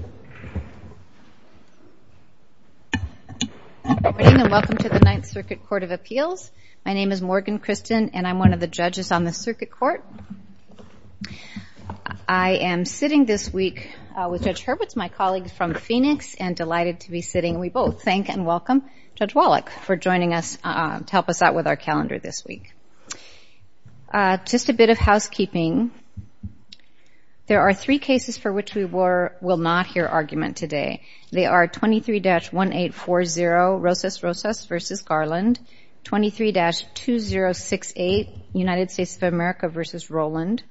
Good morning and welcome to the Ninth Circuit Court of Appeals. My name is Morgan Christen and I'm one of the judges on the circuit court. I am sitting this week with Judge Hurwitz, my colleague from Phoenix, and delighted to be sitting. We both thank and welcome Judge Wallach for joining us to help us out with our calendar this week. Just a bit of housekeeping. There are three cases for which we will not hear argument today. They are 23-1840, Rosas-Rosas v. Garland, 23-2068, United States of America v. Roland,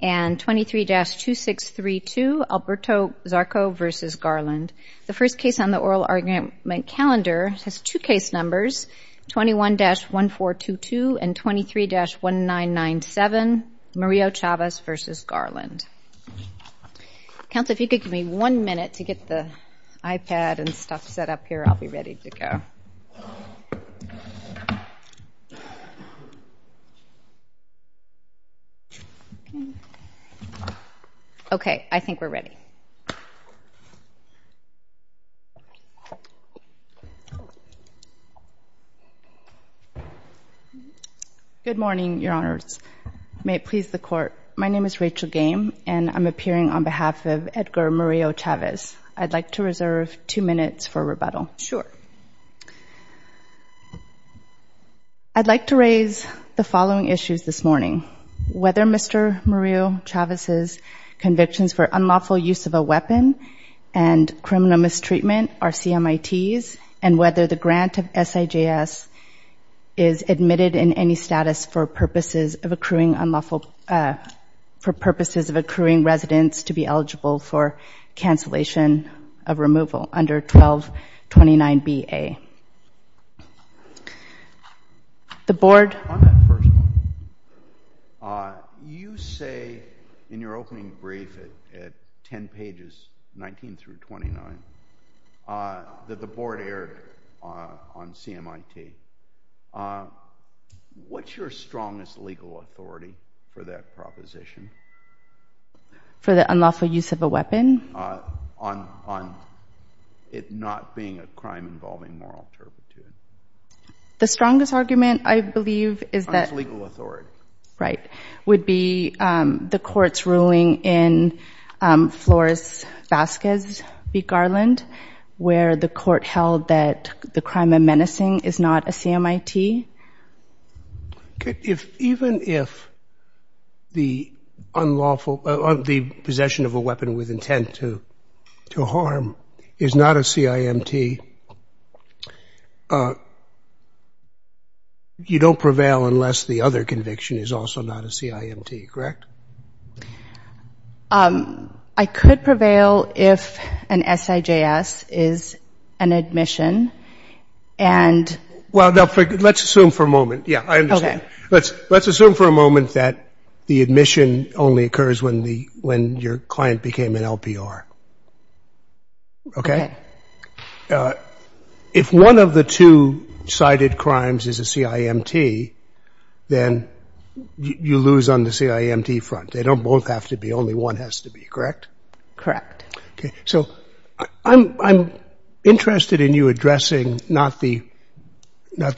and 23-2632, Alberto Zarco v. Garland. The first case on the oral argument calendar has two case numbers, 21-1422 and 23-1997, Murillo-Chavez v. Garland. Counsel, if you could give me one minute to get the iPad and stuff set up here, I'll be ready to go. Okay. I think we're ready. Good morning, Your Honors. May it please the Court. My name is Rachel Game and I'm appearing on behalf of Edgar Murillo-Chavez. I'd like to reserve two minutes for rebuttal. Sure. I'd like to raise the following issues this morning. Whether Mr. Murillo-Chavez's convictions for unlawful use of a weapon and criminal mistreatment are CMITs and whether the grant of SIJS is admitted in any status for purposes of accruing residents to be eligible for cancellation of removal under 1229 B.A. On that first one, you say in your opening brief at 10 pages, 19 through 29, that the board erred on CMIT. What's your strongest legal authority for that proposition? For the unlawful use of a weapon? On it not being a crime involving moral turpitude. The strongest argument, I believe, is that— On its legal authority. Right. Would be the Court's ruling in Flores-Vasquez v. Garland, where the Court held that the crime of menacing is not a CMIT? Even if the possession of a weapon with intent to harm is not a CIMT, you don't prevail unless the other conviction is also not a CIMT, correct? I could prevail if an SIJS is an admission and— Let's assume for a moment that the admission only occurs when your client became an LPR, okay? If one of the two cited crimes is a CIMT, then you lose on the CIMT front. They don't both have to be. Only one has to be, correct? Correct. So I'm interested in you addressing not the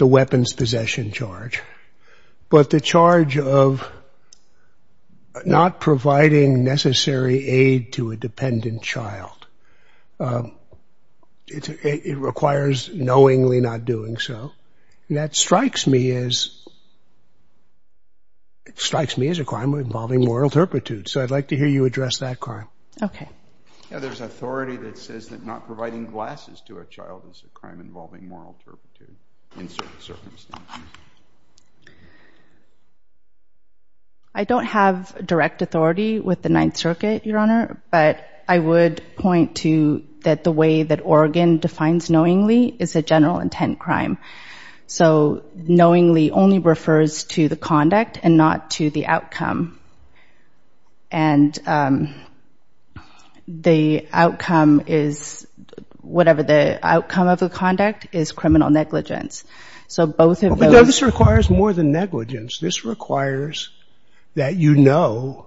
weapons possession charge, but the charge of not providing necessary aid to a dependent child. It requires knowingly not doing so. That strikes me as a crime involving moral turpitude, so I'd like to hear you address that crime. Okay. Yeah, there's authority that says that not providing glasses to a child is a crime involving moral turpitude in certain circumstances. I don't have direct authority with the Ninth Circuit, Your Honor, but I would point to that the way that Oregon defines knowingly is a general intent crime. So knowingly only refers to the conduct and not to the outcome. And the outcome is, whatever the outcome of the conduct, is criminal negligence. So both of those... No, this requires more than negligence. This requires that you know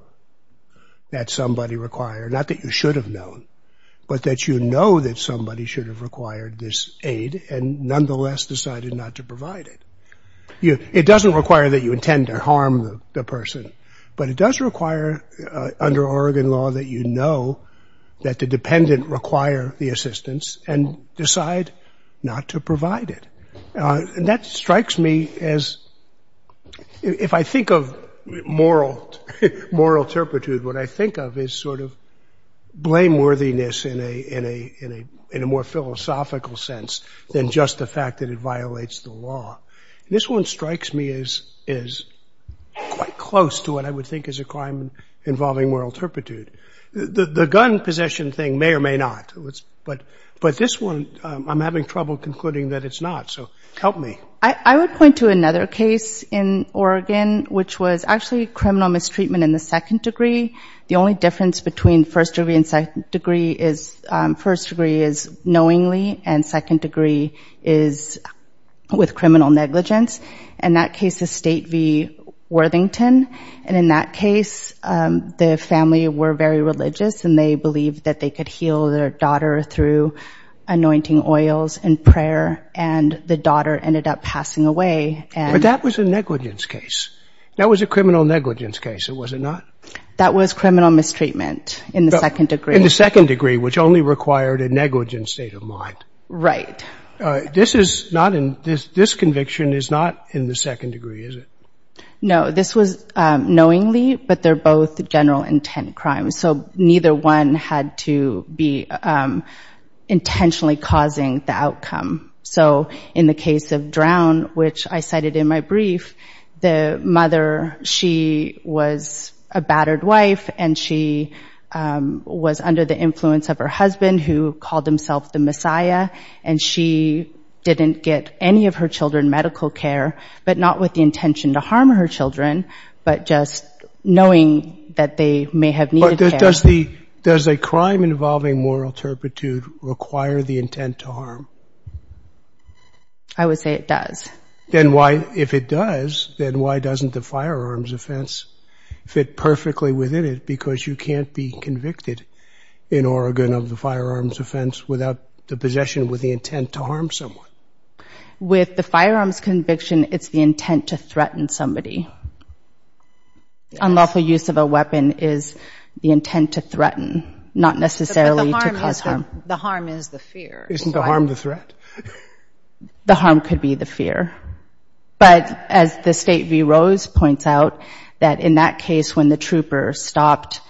that somebody required, not that you should have known, but that you know that somebody should have required this aid and nonetheless decided not to provide it. It doesn't require that you intend to harm the person, but it does require under Oregon law that you know that the dependent require the assistance and decide not to provide it. And that strikes me as... If I think of moral turpitude, what I think of is sort of blameworthiness in a more philosophical sense than just the fact that it violates the law. This one strikes me as quite close to what I would think is a crime involving moral turpitude. The gun possession thing may or may not, but this one I'm having trouble concluding that it's not. So help me. I would point to another case in Oregon, which was actually criminal mistreatment in the second degree. The only difference between first degree and second degree is first degree is knowingly and second degree is with criminal negligence. In that case, the state v. Worthington, and in that case, the family were very religious and they believed that they could heal their daughter through anointing oils and prayer and the daughter ended up passing away. But that was a negligence case. That was a criminal negligence case, was it not? That was criminal mistreatment in the second degree. In the second degree, which only required a negligent state of mind. Right. This is not in, this conviction is not in the second degree, is it? No, this was knowingly, but they're both general intent crimes. So neither one had to be intentionally causing the outcome. So in the case of Drown, which I cited in my brief, the mother, she was a battered wife and she was under the influence of her husband, who called himself the Messiah, and she didn't get any of her children medical care, but not with the intention to harm her children, but just knowing that they may have needed care. Does a crime involving moral turpitude require the intent to harm? I would say it does. Then why, if it does, then why doesn't the firearms offense fit perfectly within it? Because you can't be convicted in Oregon of the firearms offense without the possession with the intent to harm someone. With the firearms conviction, it's the intent to threaten somebody. Unlawful use of a weapon is the intent to threaten, not necessarily to cause harm. The harm is the fear. Isn't the harm the threat? The harm could be the fear, but as the State v. Rose points out, that in that case when the trooper stopped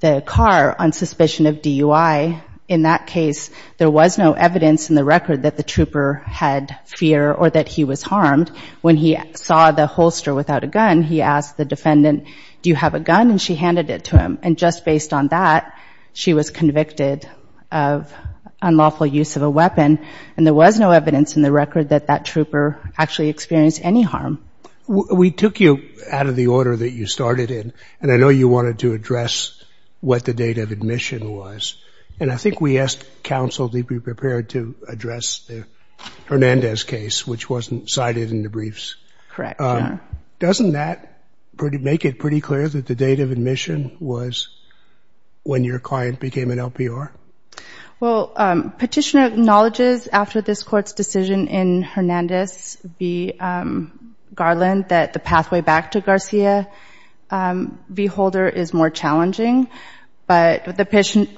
the car on suspicion of DUI, in that case, there was no evidence in the record that the trooper had fear or that he was harmed when he saw the holster without a gun, he asked the defendant, do you have a gun, and she handed it to him. And just based on that, she was convicted of unlawful use of a weapon, and there was no evidence in the record that that trooper actually experienced any harm. We took you out of the order that you started in, and I know you wanted to address what the date of admission was. And I think we asked counsel to be prepared to address the Hernandez case, which wasn't cited in the briefs. Correct. Doesn't that make it pretty clear that the date of admission was when your client became an LPR? Well, Petitioner acknowledges after this Court's decision in Hernandez v. Garland that the pathway back to Garcia v. Holder is more challenging, but the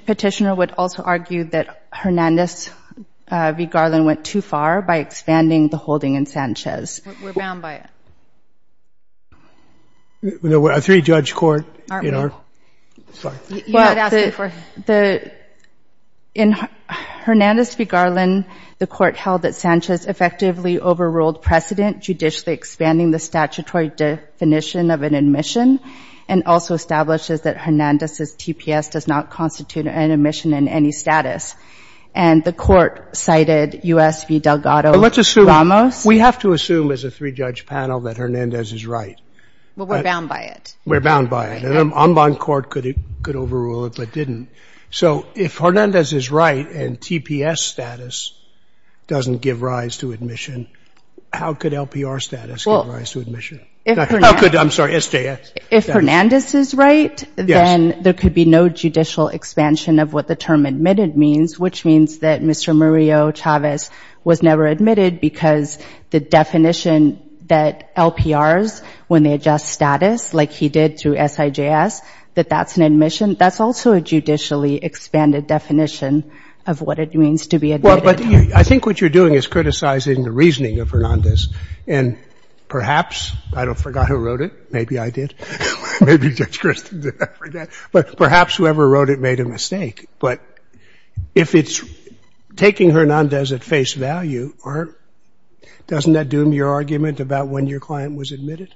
Petitioner would also argue that Hernandez v. Garland went too far by expanding the holding in Sanchez. We're bound by it. We're a three-judge court. Aren't we? Sorry. You had asked it before. Well, in Hernandez v. Garland, the Court held that Sanchez effectively overruled precedent judicially expanding the statutory definition of an admission, and also establishes that Hernandez's TPS does not constitute an admission in any status. And the Court cited U.S. v. Delgado-Ramos. We have to assume as a three-judge panel that Hernandez is right. Well, we're bound by it. We're bound by it. And an en banc court could overrule it, but didn't. So if Hernandez is right and TPS status doesn't give rise to admission, how could LPR status give rise to admission? How could, I'm sorry, SJS? If Hernandez is right, then there could be no judicial expansion of what the term admitted means, which means that Mr. Murillo-Chavez was never admitted because the definition that LPRs, when they adjust status, like he did through SJS, that that's an admission, that's also a judicially expanded definition of what it means to be admitted. Well, but I think what you're doing is criticizing the reasoning of Hernandez. And perhaps, I don't forgot who wrote it, maybe I did, maybe Judge Kristin did, but perhaps whoever wrote it made a mistake. But if it's taking Hernandez at face value, doesn't that doom your argument about when your client was admitted?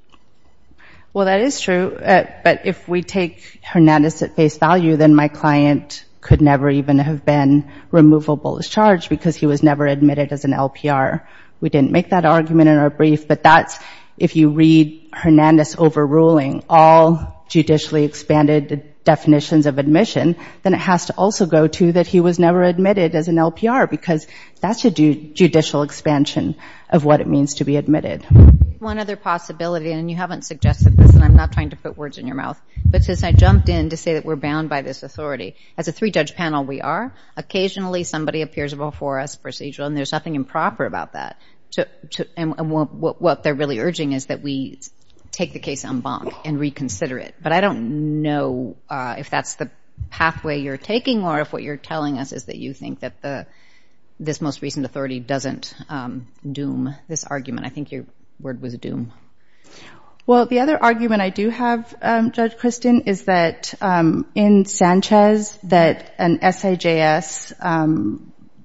Well, that is true, but if we take Hernandez at face value, then my client could never even have been removable as charged because he was never admitted as an LPR. We didn't make that argument in our brief, but that's, if you read Hernandez overruling all judicially expanded definitions of admission, then it has to also go to that he was never admitted as an LPR because that's a judicial expansion of what it means to be admitted. One other possibility, and you haven't suggested this, and I'm not trying to put words in your mouth, but since I jumped in to say that we're bound by this authority, as a three-judge panel we are, occasionally somebody appears before us procedurally, and there's nothing improper about that. And what they're really urging is that we take the case en banc and reconsider it. But I don't know if that's the pathway you're taking or if what you're telling us is that you think that this most recent authority doesn't doom this argument. I think your word was doom. Well, the other argument I do have, Judge Kristin, is that in Sanchez, that an SAJS,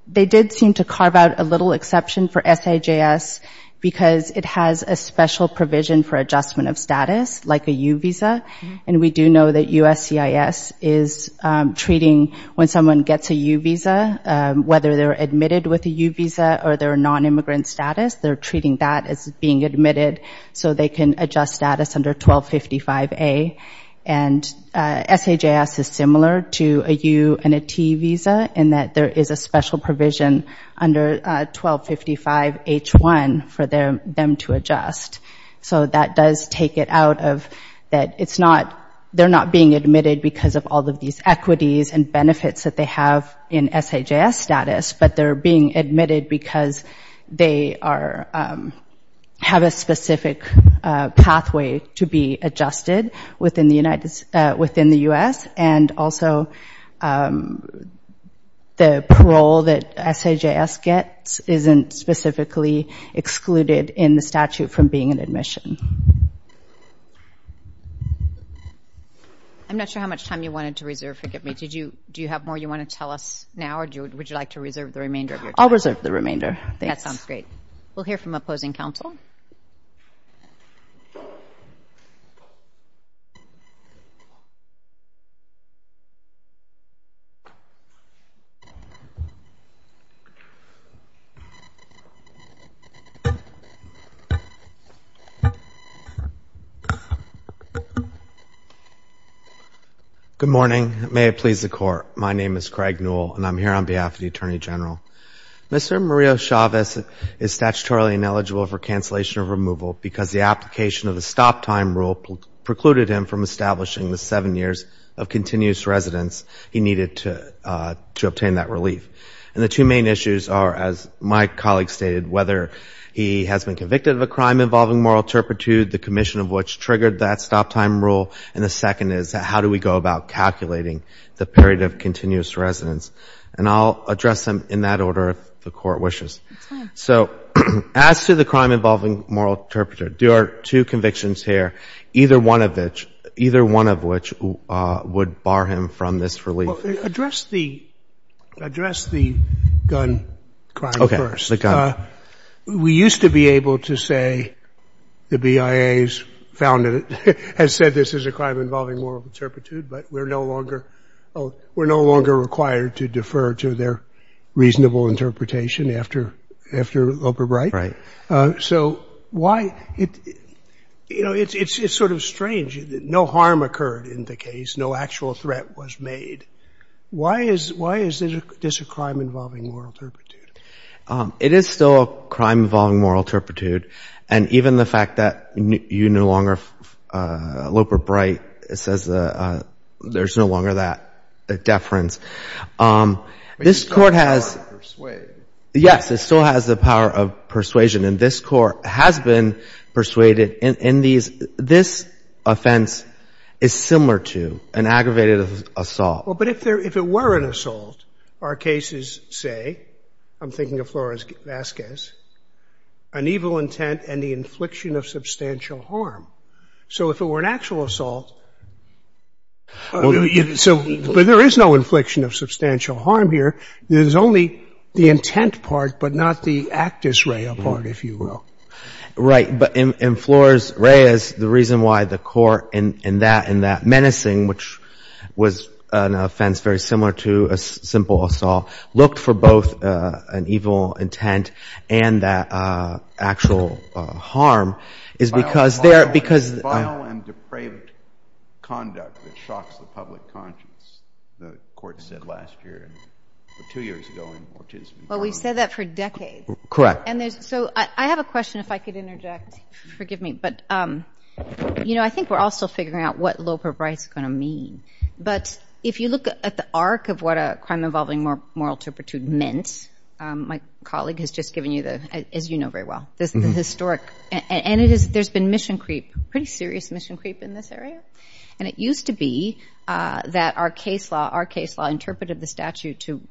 they did seem to carve out a little exception for SAJS because it has a special provision for adjustment of status, like a U visa, and we do know that USCIS is treating when someone gets a U visa, whether they're admitted with a U visa or they're a non-immigrant status, they're treating that as being admitted so they can adjust status under 1255A. And SAJS is similar to a U and a T visa in that there is a special provision under 1255H1 for them to adjust. So that does take it out of that it's not, they're not being admitted because of all of these equities and benefits that they have in SAJS status, but they're being admitted because they have a specific pathway to be adjusted within the U.S. and also the parole that SAJS gets isn't specifically excluded in the statute from being an admission. I'm not sure how much time you wanted to reserve, forgive me. Do you have more you want to tell us now, or would you like to reserve the remainder of your time? I'll reserve the remainder. That sounds great. We'll hear from opposing counsel. Good morning, may it please the court. My name is Craig Newell, and I'm here on behalf of the Attorney General. Mr. Mario Chavez is statutorily ineligible for cancellation of removal because the application of the stop time rule precluded him from establishing the seven years of continuous residence he needed to obtain that relief. And the two main issues are, as my colleague stated, whether he has been convicted of a crime involving moral turpitude, the commission of which triggered that stop time rule, and the second is how do we go about calculating the period of continuous residence. And I'll address them in that order if the Court wishes. So as to the crime involving moral turpitude, there are two convictions here, either one of which would bar him from this relief. Address the gun crime first. We used to be able to say the BIA has said this is a crime involving moral turpitude, but we're no longer required to defer to their reasonable interpretation after Oberbrecht. So it's sort of strange. No harm occurred in the case. No actual threat was made. Why is this a crime involving moral turpitude? It is still a crime involving moral turpitude. And even the fact that you no longer, Oberbrecht says there's no longer that deference. This Court has the power of persuasion. And this Court has been persuaded in these, this offense is similar to an aggravated assault. But if there, if it were an assault, our cases say, I'm thinking of Flores-Vazquez, an evil intent and the infliction of substantial harm. So if it were an actual assault, so, but there is no infliction of substantial harm here. There's only the intent part, but not the actus rea part, if you will. Right. But in Flores-Reyes, the reason why the Court in that menacing, which was an offense very similar to a simple assault, looked for both an evil intent and that actual harm is because there, because. Vile and depraved conduct that shocks the public conscience, the Court said last year, two years ago in Ortiz v. Brown. Well, we've said that for decades. Correct. And there's, so I have a question if I could interject. Forgive me. But, you know, I think we're all still figuring out what Loper-Bright's going to mean. But if you look at the arc of what a crime involving moral turpitude meant, my colleague has just given you the, as you know very well, the historic, and it is, there's been mission creep, pretty serious mission creep in this area. And it used to be that our case law, our case law interpreted the statute to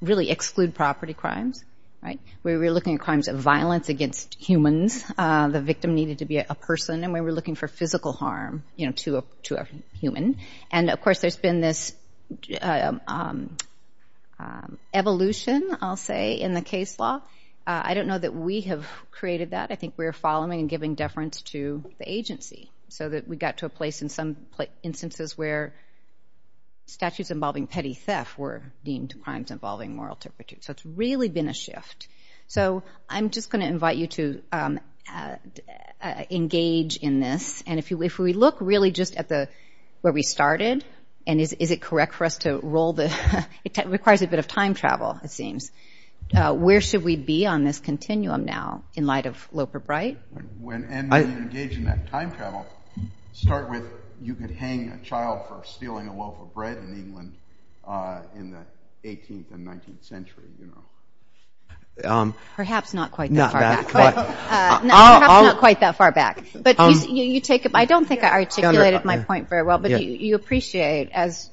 really exclude property crimes, right? We were looking at crimes of violence against humans, the victim needed to be a person, and we were looking for physical harm, you know, to a human. And, of course, there's been this evolution, I'll say, in the case law. I don't know that we have created that. I think we're following and giving deference to the agency so that we got to a place in some instances where statutes involving petty theft were deemed crimes involving moral turpitude. So it's really been a shift. So I'm just going to invite you to engage in this. And if we look really just at the, where we started, and is it correct for us to roll the, it requires a bit of time travel, it seems, where should we be on this continuum now in light of Loper-Bright? When, and when you engage in that time travel, start with, you could hang a child for stealing a loaf of bread in England in the 18th and 19th century, you know. Perhaps not quite that far back. Perhaps not quite that far back. But you take, I don't think I articulated my point very well, but you appreciate, as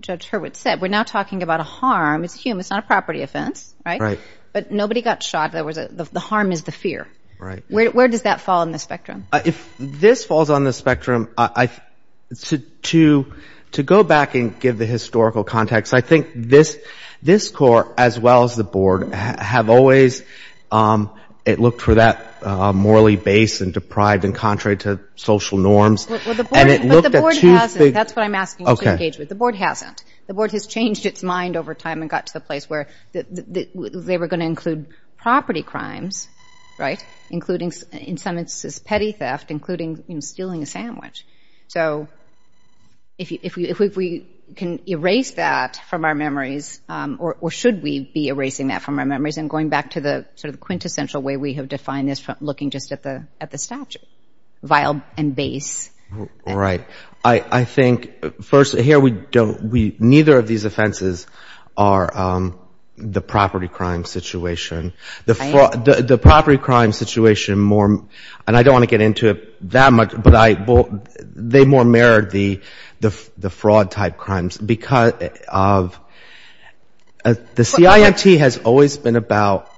Judge Hurwitz said, we're now talking about a harm, it's a human, it's not a property offense, right? But nobody got shot, the harm is the fear. Where does that fall on the spectrum? If this falls on the spectrum, I, to go back and give the historical context, I think this court, as well as the board, have always, it looked for that morally base and deprived and contrary to social norms. And it looked at two things. That's what I'm asking you to engage with. The board hasn't. The board has changed its mind over time and got to the place where they were going to include property crimes, right? Including, in some instances, petty theft, including stealing a sandwich. So if we can erase that from our memories, or should we be erasing that from our memories and going back to the sort of quintessential way we have defined this, looking just at the statute, vial and base. Right. I think, first, here we don't, neither of these offenses are the property crime situation. The property crime situation more, and I don't want to get into it that much, but they more mirrored the fraud type crimes. Because of, the CIMT has always been about,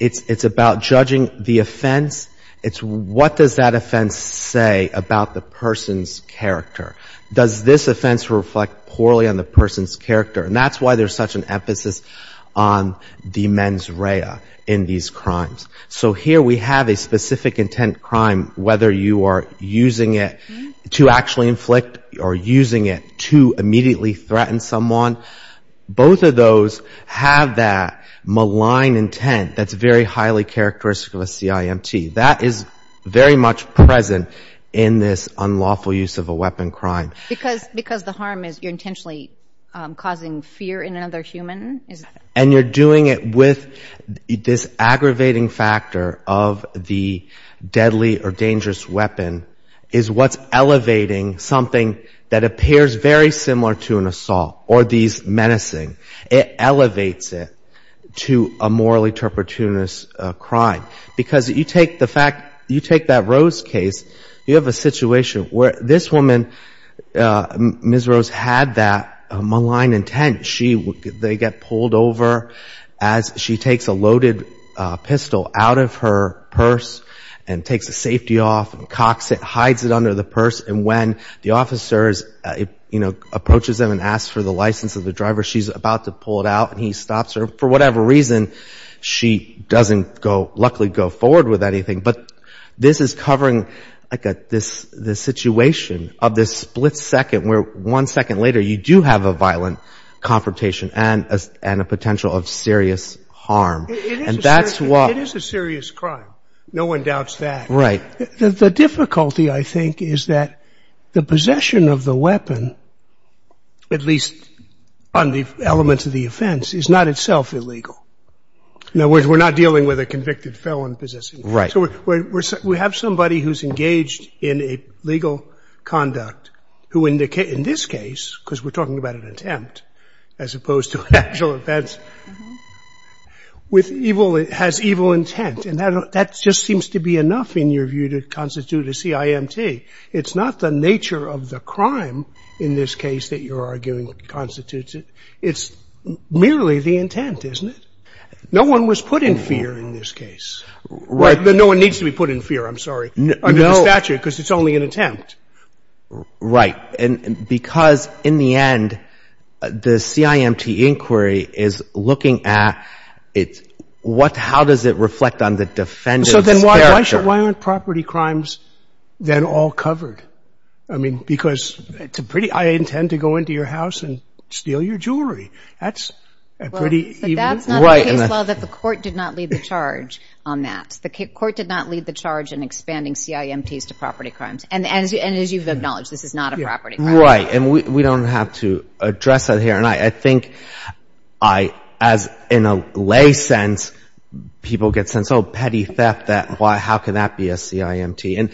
it's about judging the offense. It's what does that offense say about the person's character? Does this offense reflect poorly on the person's character? And that's why there's such an emphasis on the mens rea in these crimes. So here we have a specific intent crime, whether you are using it to actually inflict or using it to immediately threaten someone. Both of those have that malign intent that's very highly characteristic of a CIMT. That is very much present in this unlawful use of a weapon crime. Because the harm is you're intentionally causing fear in another human. And you're doing it with this aggravating factor of the deadly or dangerous weapon is what's elevating something that appears very similar to an assault or these menacing. It elevates it to a morally turpituous crime. Because you take the fact, you take that Rose case, you have a situation where this woman, Ms. Rose, had that malign intent. They get pulled over as she takes a loaded pistol out of her purse and takes the safety off and cocks it, hides it under the purse. And when the officers, you know, approaches them and asks for the license of the driver, she's about to pull it out and he stops her. For whatever reason, she doesn't go, luckily, go forward with anything. But this is covering, like, this situation of this split second where one second later, you do have a violent confrontation and a potential of serious harm. And that's what... It is a serious crime. No one doubts that. Right. The difficulty, I think, is that the possession of the weapon, at least on the elements of the offense, is not itself illegal. In other words, we're not dealing with a convicted felon possessing... Right. So we have somebody who's engaged in a legal conduct who, in this case, because we're talking about an attempt as opposed to actual offense, with evil... Has evil intent. And that just seems to be enough, in your view, to constitute a CIMT. It's not the nature of the crime, in this case, that you're arguing constitutes it. It's merely the intent, isn't it? No one was put in fear in this case. No one needs to be put in fear, I'm sorry, under the statute because it's only an attempt. Right. And because, in the end, the CIMT inquiry is looking at... How does it reflect on the defendant's character? Why aren't property crimes then all covered? I mean, because it's a pretty... I intend to go into your house and steal your jewelry. That's a pretty... But that's not the case, though, that the court did not lead the charge on that. The court did not lead the charge in expanding CIMTs to property crimes. And as you've acknowledged, this is not a property crime. Right. And we don't have to address that here. And I think I, as in a lay sense, people get sense, oh, petty theft, that why, how can that be a CIMT? And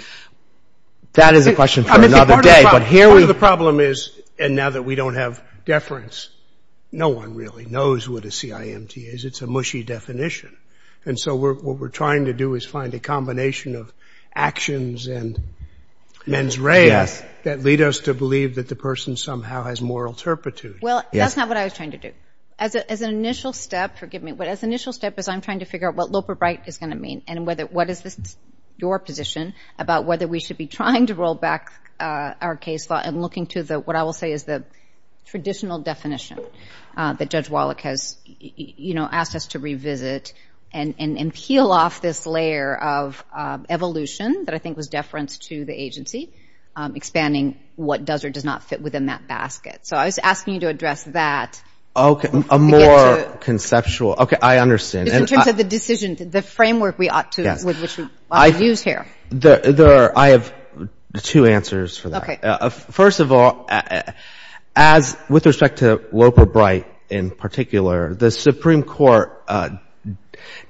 that is a question for another day, but here we... Part of the problem is, and now that we don't have deference, no one really knows what a CIMT is. It's a mushy definition. And so what we're trying to do is find a combination of actions and mens rea that lead us to believe that the person somehow has moral turpitude. Well, that's not what I was trying to do. As an initial step, forgive me, but as an initial step, as I'm trying to figure out what Loper Bright is going to mean and what is your position about whether we should be trying to roll back our case law and looking to the, what I will say is the traditional definition that Judge Wallach has asked us to revisit and peel off this layer of evolution that I think was deference to the agency, expanding what does or does not fit within that basket. So I was asking you to address that. Okay, a more conceptual... Okay, I understand. Just in terms of the decision, the framework we ought to use here. I have two answers for that. First of all, as with respect to Loper Bright in particular, the Supreme Court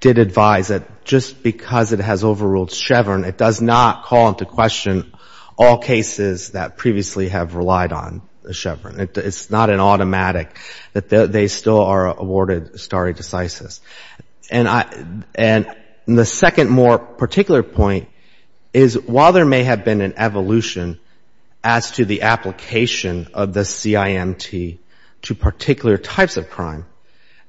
did advise that just because it has overruled Chevron, it does not call into question all cases that previously have relied on Chevron. It's not an automatic that they still are awarded stare decisis. And the second more particular point is while there may have been an evolution as to the application of the CIMT to particular types of crime,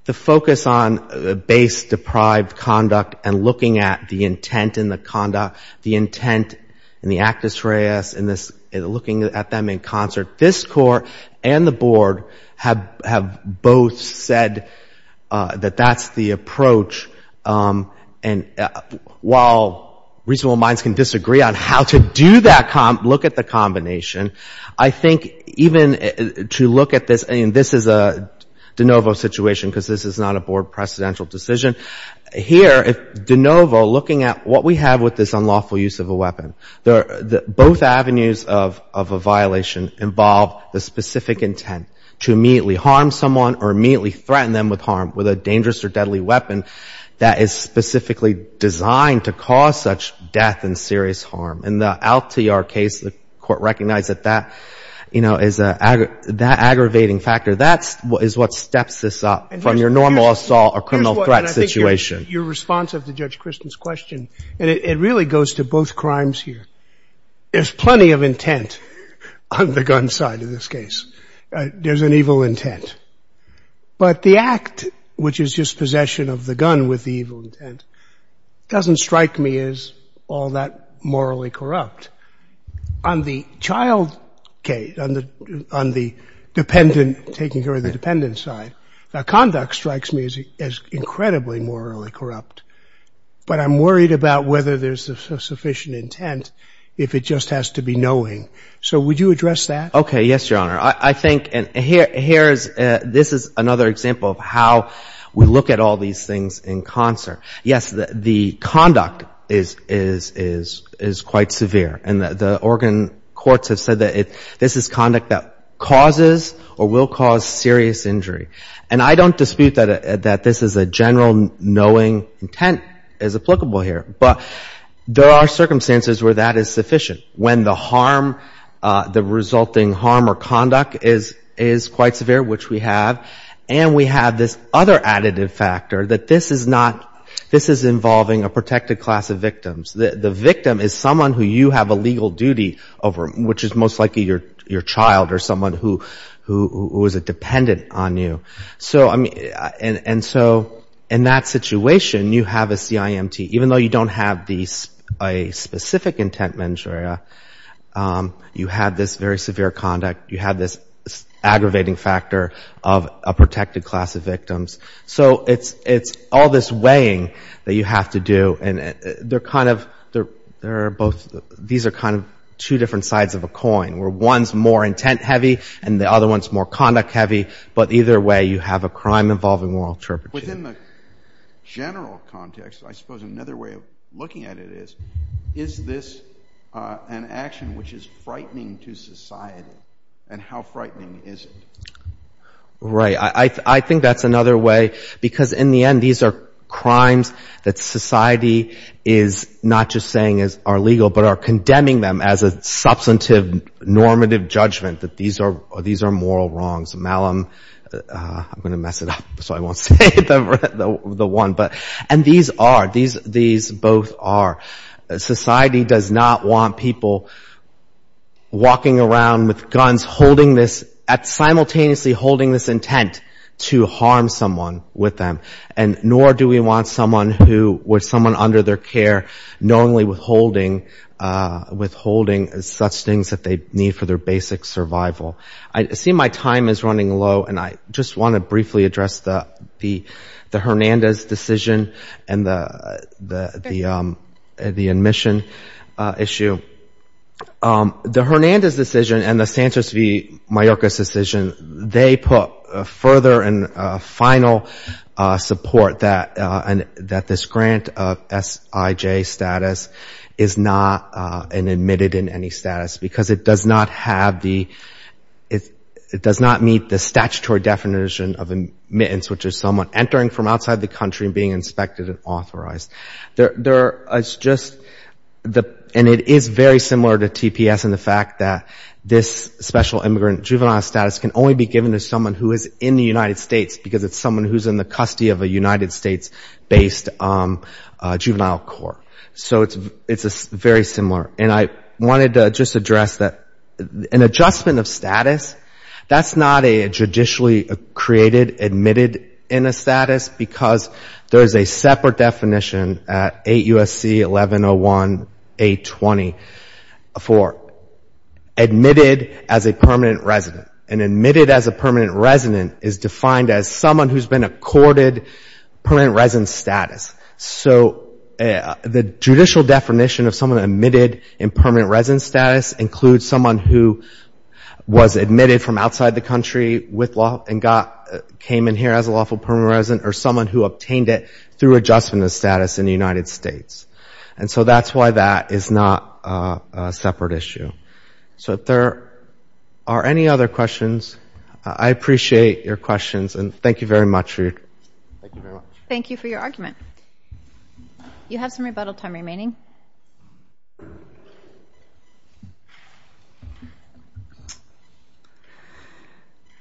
the focus on base-deprived conduct and looking at the intent in the conduct, the intent in the actus reus, and looking at them in concert, this Court and the Board have both said that that's the approach. And while reasonable minds can disagree on how to do that, look at the combination, I think even to look at this, and this is a de novo situation because this is not a Board precedential decision. Here, de novo, looking at what we have with this unlawful use of a weapon, both avenues of a violation involve the specific intent to immediately harm someone or immediately threaten them with harm with a dangerous or deadly weapon that is specifically designed to cause such death and serious harm. In the Altiar case, the Court recognized that that aggravating factor, that is what steps this up from your normal assault or criminal threat situation. Your response of the Judge Christian's question, and it really goes to both crimes here, there's plenty of intent on the gun side of this case. There's an evil intent. But the act, which is just possession of the gun with the evil intent, doesn't strike me as all that morally corrupt. On the child case, on the dependent, taking care of the dependent side, the conduct strikes me as incredibly morally corrupt. But I'm worried about whether there's a sufficient intent if it just has to be knowing. So would you address that? Yes, Your Honor. I think, and here's, this is another example of how we look at all these things in concert. Yes, the conduct is quite severe. And the Oregon courts have said that this is conduct that causes or will cause serious injury. I don't dispute that this is a general knowing intent is applicable here. But there are circumstances where that is sufficient. When the harm, the resulting harm or conduct is quite severe, which we have, and we have this other additive factor that this is not, this is involving a protected class of victims. The victim is someone who you have a legal duty over, which is most likely your child or someone who is a dependent on you. So, I mean, and so in that situation, you have a CIMT. Even though you don't have a specific intent manager, you have this very severe conduct. You have this aggravating factor of a protected class of victims. So it's all this weighing that you have to do. And they're kind of, they're both, these are kind of two different sides of a coin, where one's more intent heavy and the other one's more conduct heavy. But either way, you have a crime involving moral turpitude. Within the general context, I suppose another way of looking at it is, is this an action which is frightening to society? And how frightening is it? Right. I think that's another way. Because in the end, these are crimes that society is not just saying are legal, but are condemning them as a substantive normative judgment that these are moral wrongs, malum, I'm going to mess it up so I won't say the one. And these are, these both are. Society does not want people walking around with guns, holding this, simultaneously holding this intent to harm someone with them. And nor do we want someone who, with someone under their care, knowingly withholding such things that they need for their basic survival. I see my time is running low. And I just want to briefly address the Hernandez decision and the admission issue. The Hernandez decision and the Santos v. Mayorkas decision, they put further and final support that this grant of SIJ status is not admitted in any status. Because it does not meet the statutory definition of admittance, which is someone entering from outside the country and being inspected and authorized. And it is very similar to TPS in the fact that this special immigrant juvenile status can only be given to someone who is in the United States, because it's someone who's in the custody of a United States-based juvenile court. So it's very similar. And I wanted to just address that an adjustment of status, that's not a judicially created admitted in a status, because there is a separate definition at 8 U.S.C. 1101-820 for admitted as a permanent resident. And admitted as a permanent resident is defined as someone who's been accorded permanent resident status. So the judicial definition of someone admitted in permanent resident status includes someone who was admitted from outside the country with law and came in here as a lawful permanent resident, or someone who obtained it through adjustment of status in the United States. And so that's why that is not a separate issue. So if there are any other questions, I appreciate your questions. And thank you very much, Ruud. Thank you very much. Thank you for your argument. You have some rebuttal time remaining.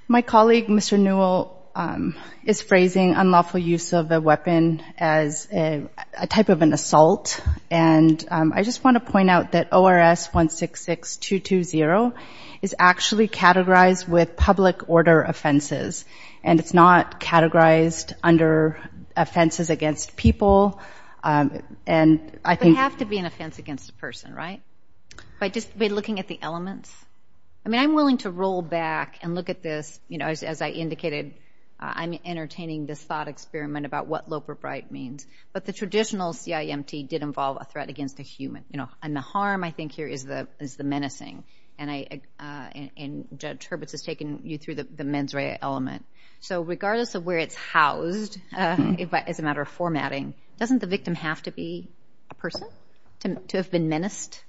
My colleague, Mr. Newell, is phrasing unlawful use of a weapon as a type of an assault. And I just want to point out that ORS 166-220 is actually categorized with public order offenses. And it's not categorized under offenses against people. And I think- They have to be an offense against a person, right? By just looking at the elements? I mean, I'm willing to roll back and look at this, you know, as I indicated, I'm entertaining this thought experiment about what Loper Bright means. But the traditional CIMT did involve a threat against a human. You know, and the harm I think here is the menacing. And Judge Hurwitz has taken you through the mens rea element. So regardless of where it's housed, as a matter of formatting, doesn't the victim have to be a person to have been menaced?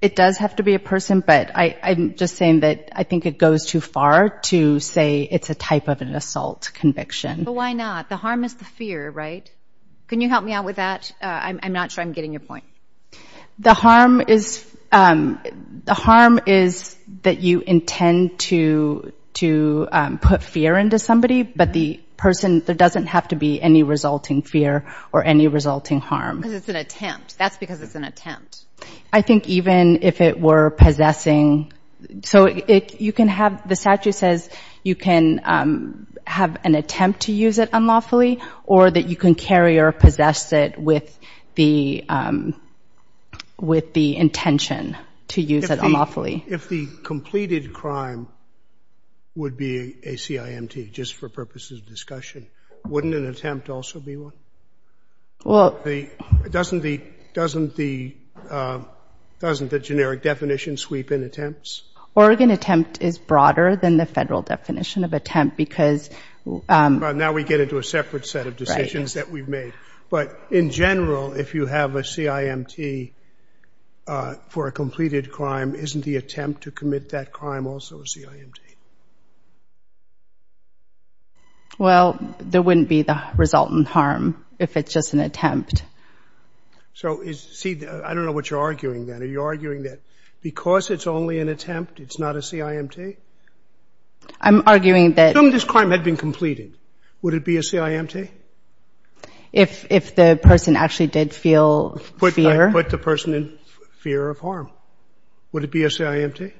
It does have to be a person. But I'm just saying that I think it goes too far to say it's a type of an assault conviction. But why not? The harm is the fear, right? Can you help me out with that? I'm not sure I'm getting your point. The harm is that you intend to put fear into somebody. But the person, there doesn't have to be any resulting fear or any resulting harm. Because it's an attempt. That's because it's an attempt. I think even if it were possessing- So you can have- The statute says you can have an attempt to use it unlawfully or that you can carry or possess it with the intention to use it unlawfully. If the completed crime would be a CIMT, just for purposes of discussion, wouldn't an attempt also be one? Well- Doesn't the generic definition sweep in attempts? Oregon attempt is broader than the federal definition of attempt because- Now we get into a separate set of decisions that we've made. But in general, if you have a CIMT for a completed crime, isn't the attempt to commit that crime also a CIMT? Well, there wouldn't be the resultant harm if it's just an attempt. So I don't know what you're arguing then. Are you arguing that because it's only an attempt, it's not a CIMT? I'm arguing that- If the crime had been completed, would it be a CIMT? If the person actually did feel fear- Put the person in fear of harm, would it be a CIMT?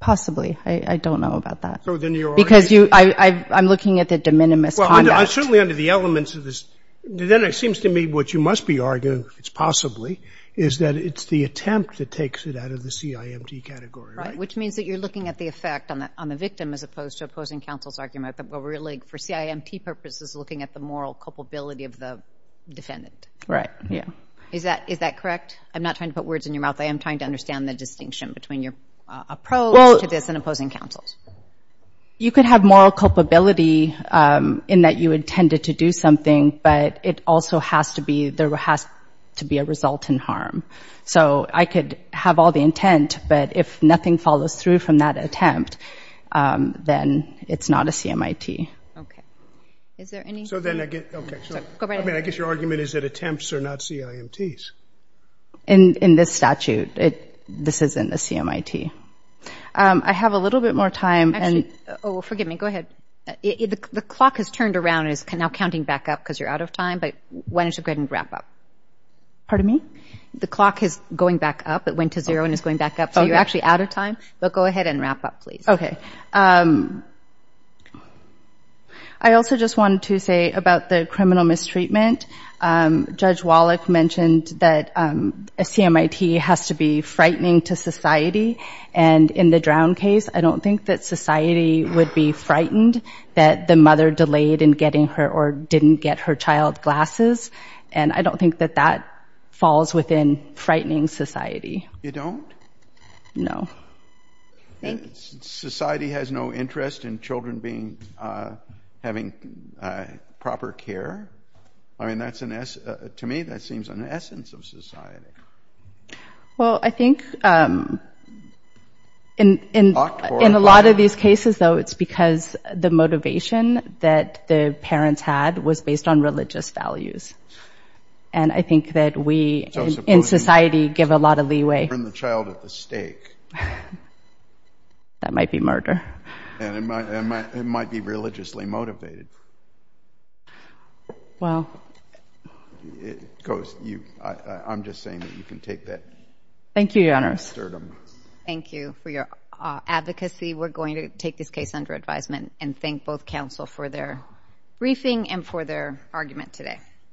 Possibly. I don't know about that. So then you're arguing- Because I'm looking at the de minimis conduct. Certainly under the elements of this, then it seems to me what you must be arguing, if it's possibly, is that it's the attempt that takes it out of the CIMT category, right? Which means that you're looking at the effect on the victim as opposed to opposing counsel's argument that we're really, for CIMT purposes, looking at the moral culpability of the defendant. Right, yeah. Is that correct? I'm not trying to put words in your mouth. I am trying to understand the distinction between your approach to this and opposing counsel's. You could have moral culpability in that you intended to do something, but it also has to be, there has to be a resultant harm. So I could have all the intent, but if nothing follows through from that attempt, then it's not a CMIT. Is there any- So then I get- Okay, go right ahead. I guess your argument is that attempts are not CIMTs. In this statute, this isn't a CMIT. I have a little bit more time and- Actually, oh, forgive me. Go ahead. The clock has turned around and is now counting back up because you're out of time, but why don't you go ahead and wrap up? Pardon me? The clock is going back up. It went to zero and is going back up, so you're actually out of time, but go ahead and wrap up, please. Okay. I also just wanted to say about the criminal mistreatment, Judge Wallach mentioned that a CMIT has to be frightening to society, and in the Drown case, I don't think that society would be frightened that the mother delayed in getting her or didn't get her child glasses, and I don't think that that falls within frightening society. You don't? No. Society has no interest in children having proper care? To me, that seems an essence of society. Well, I think in a lot of these cases, though, it's because the motivation that the parents had was based on religious values. And I think that we, in society, give a lot of leeway. Burn the child at the stake. That might be murder. And it might be religiously motivated. Well. I'm just saying that you can take that. Thank you, Your Honors. Thank you for your advocacy. We're going to take this case under advisement and thank both counsel for their briefing and for their argument today.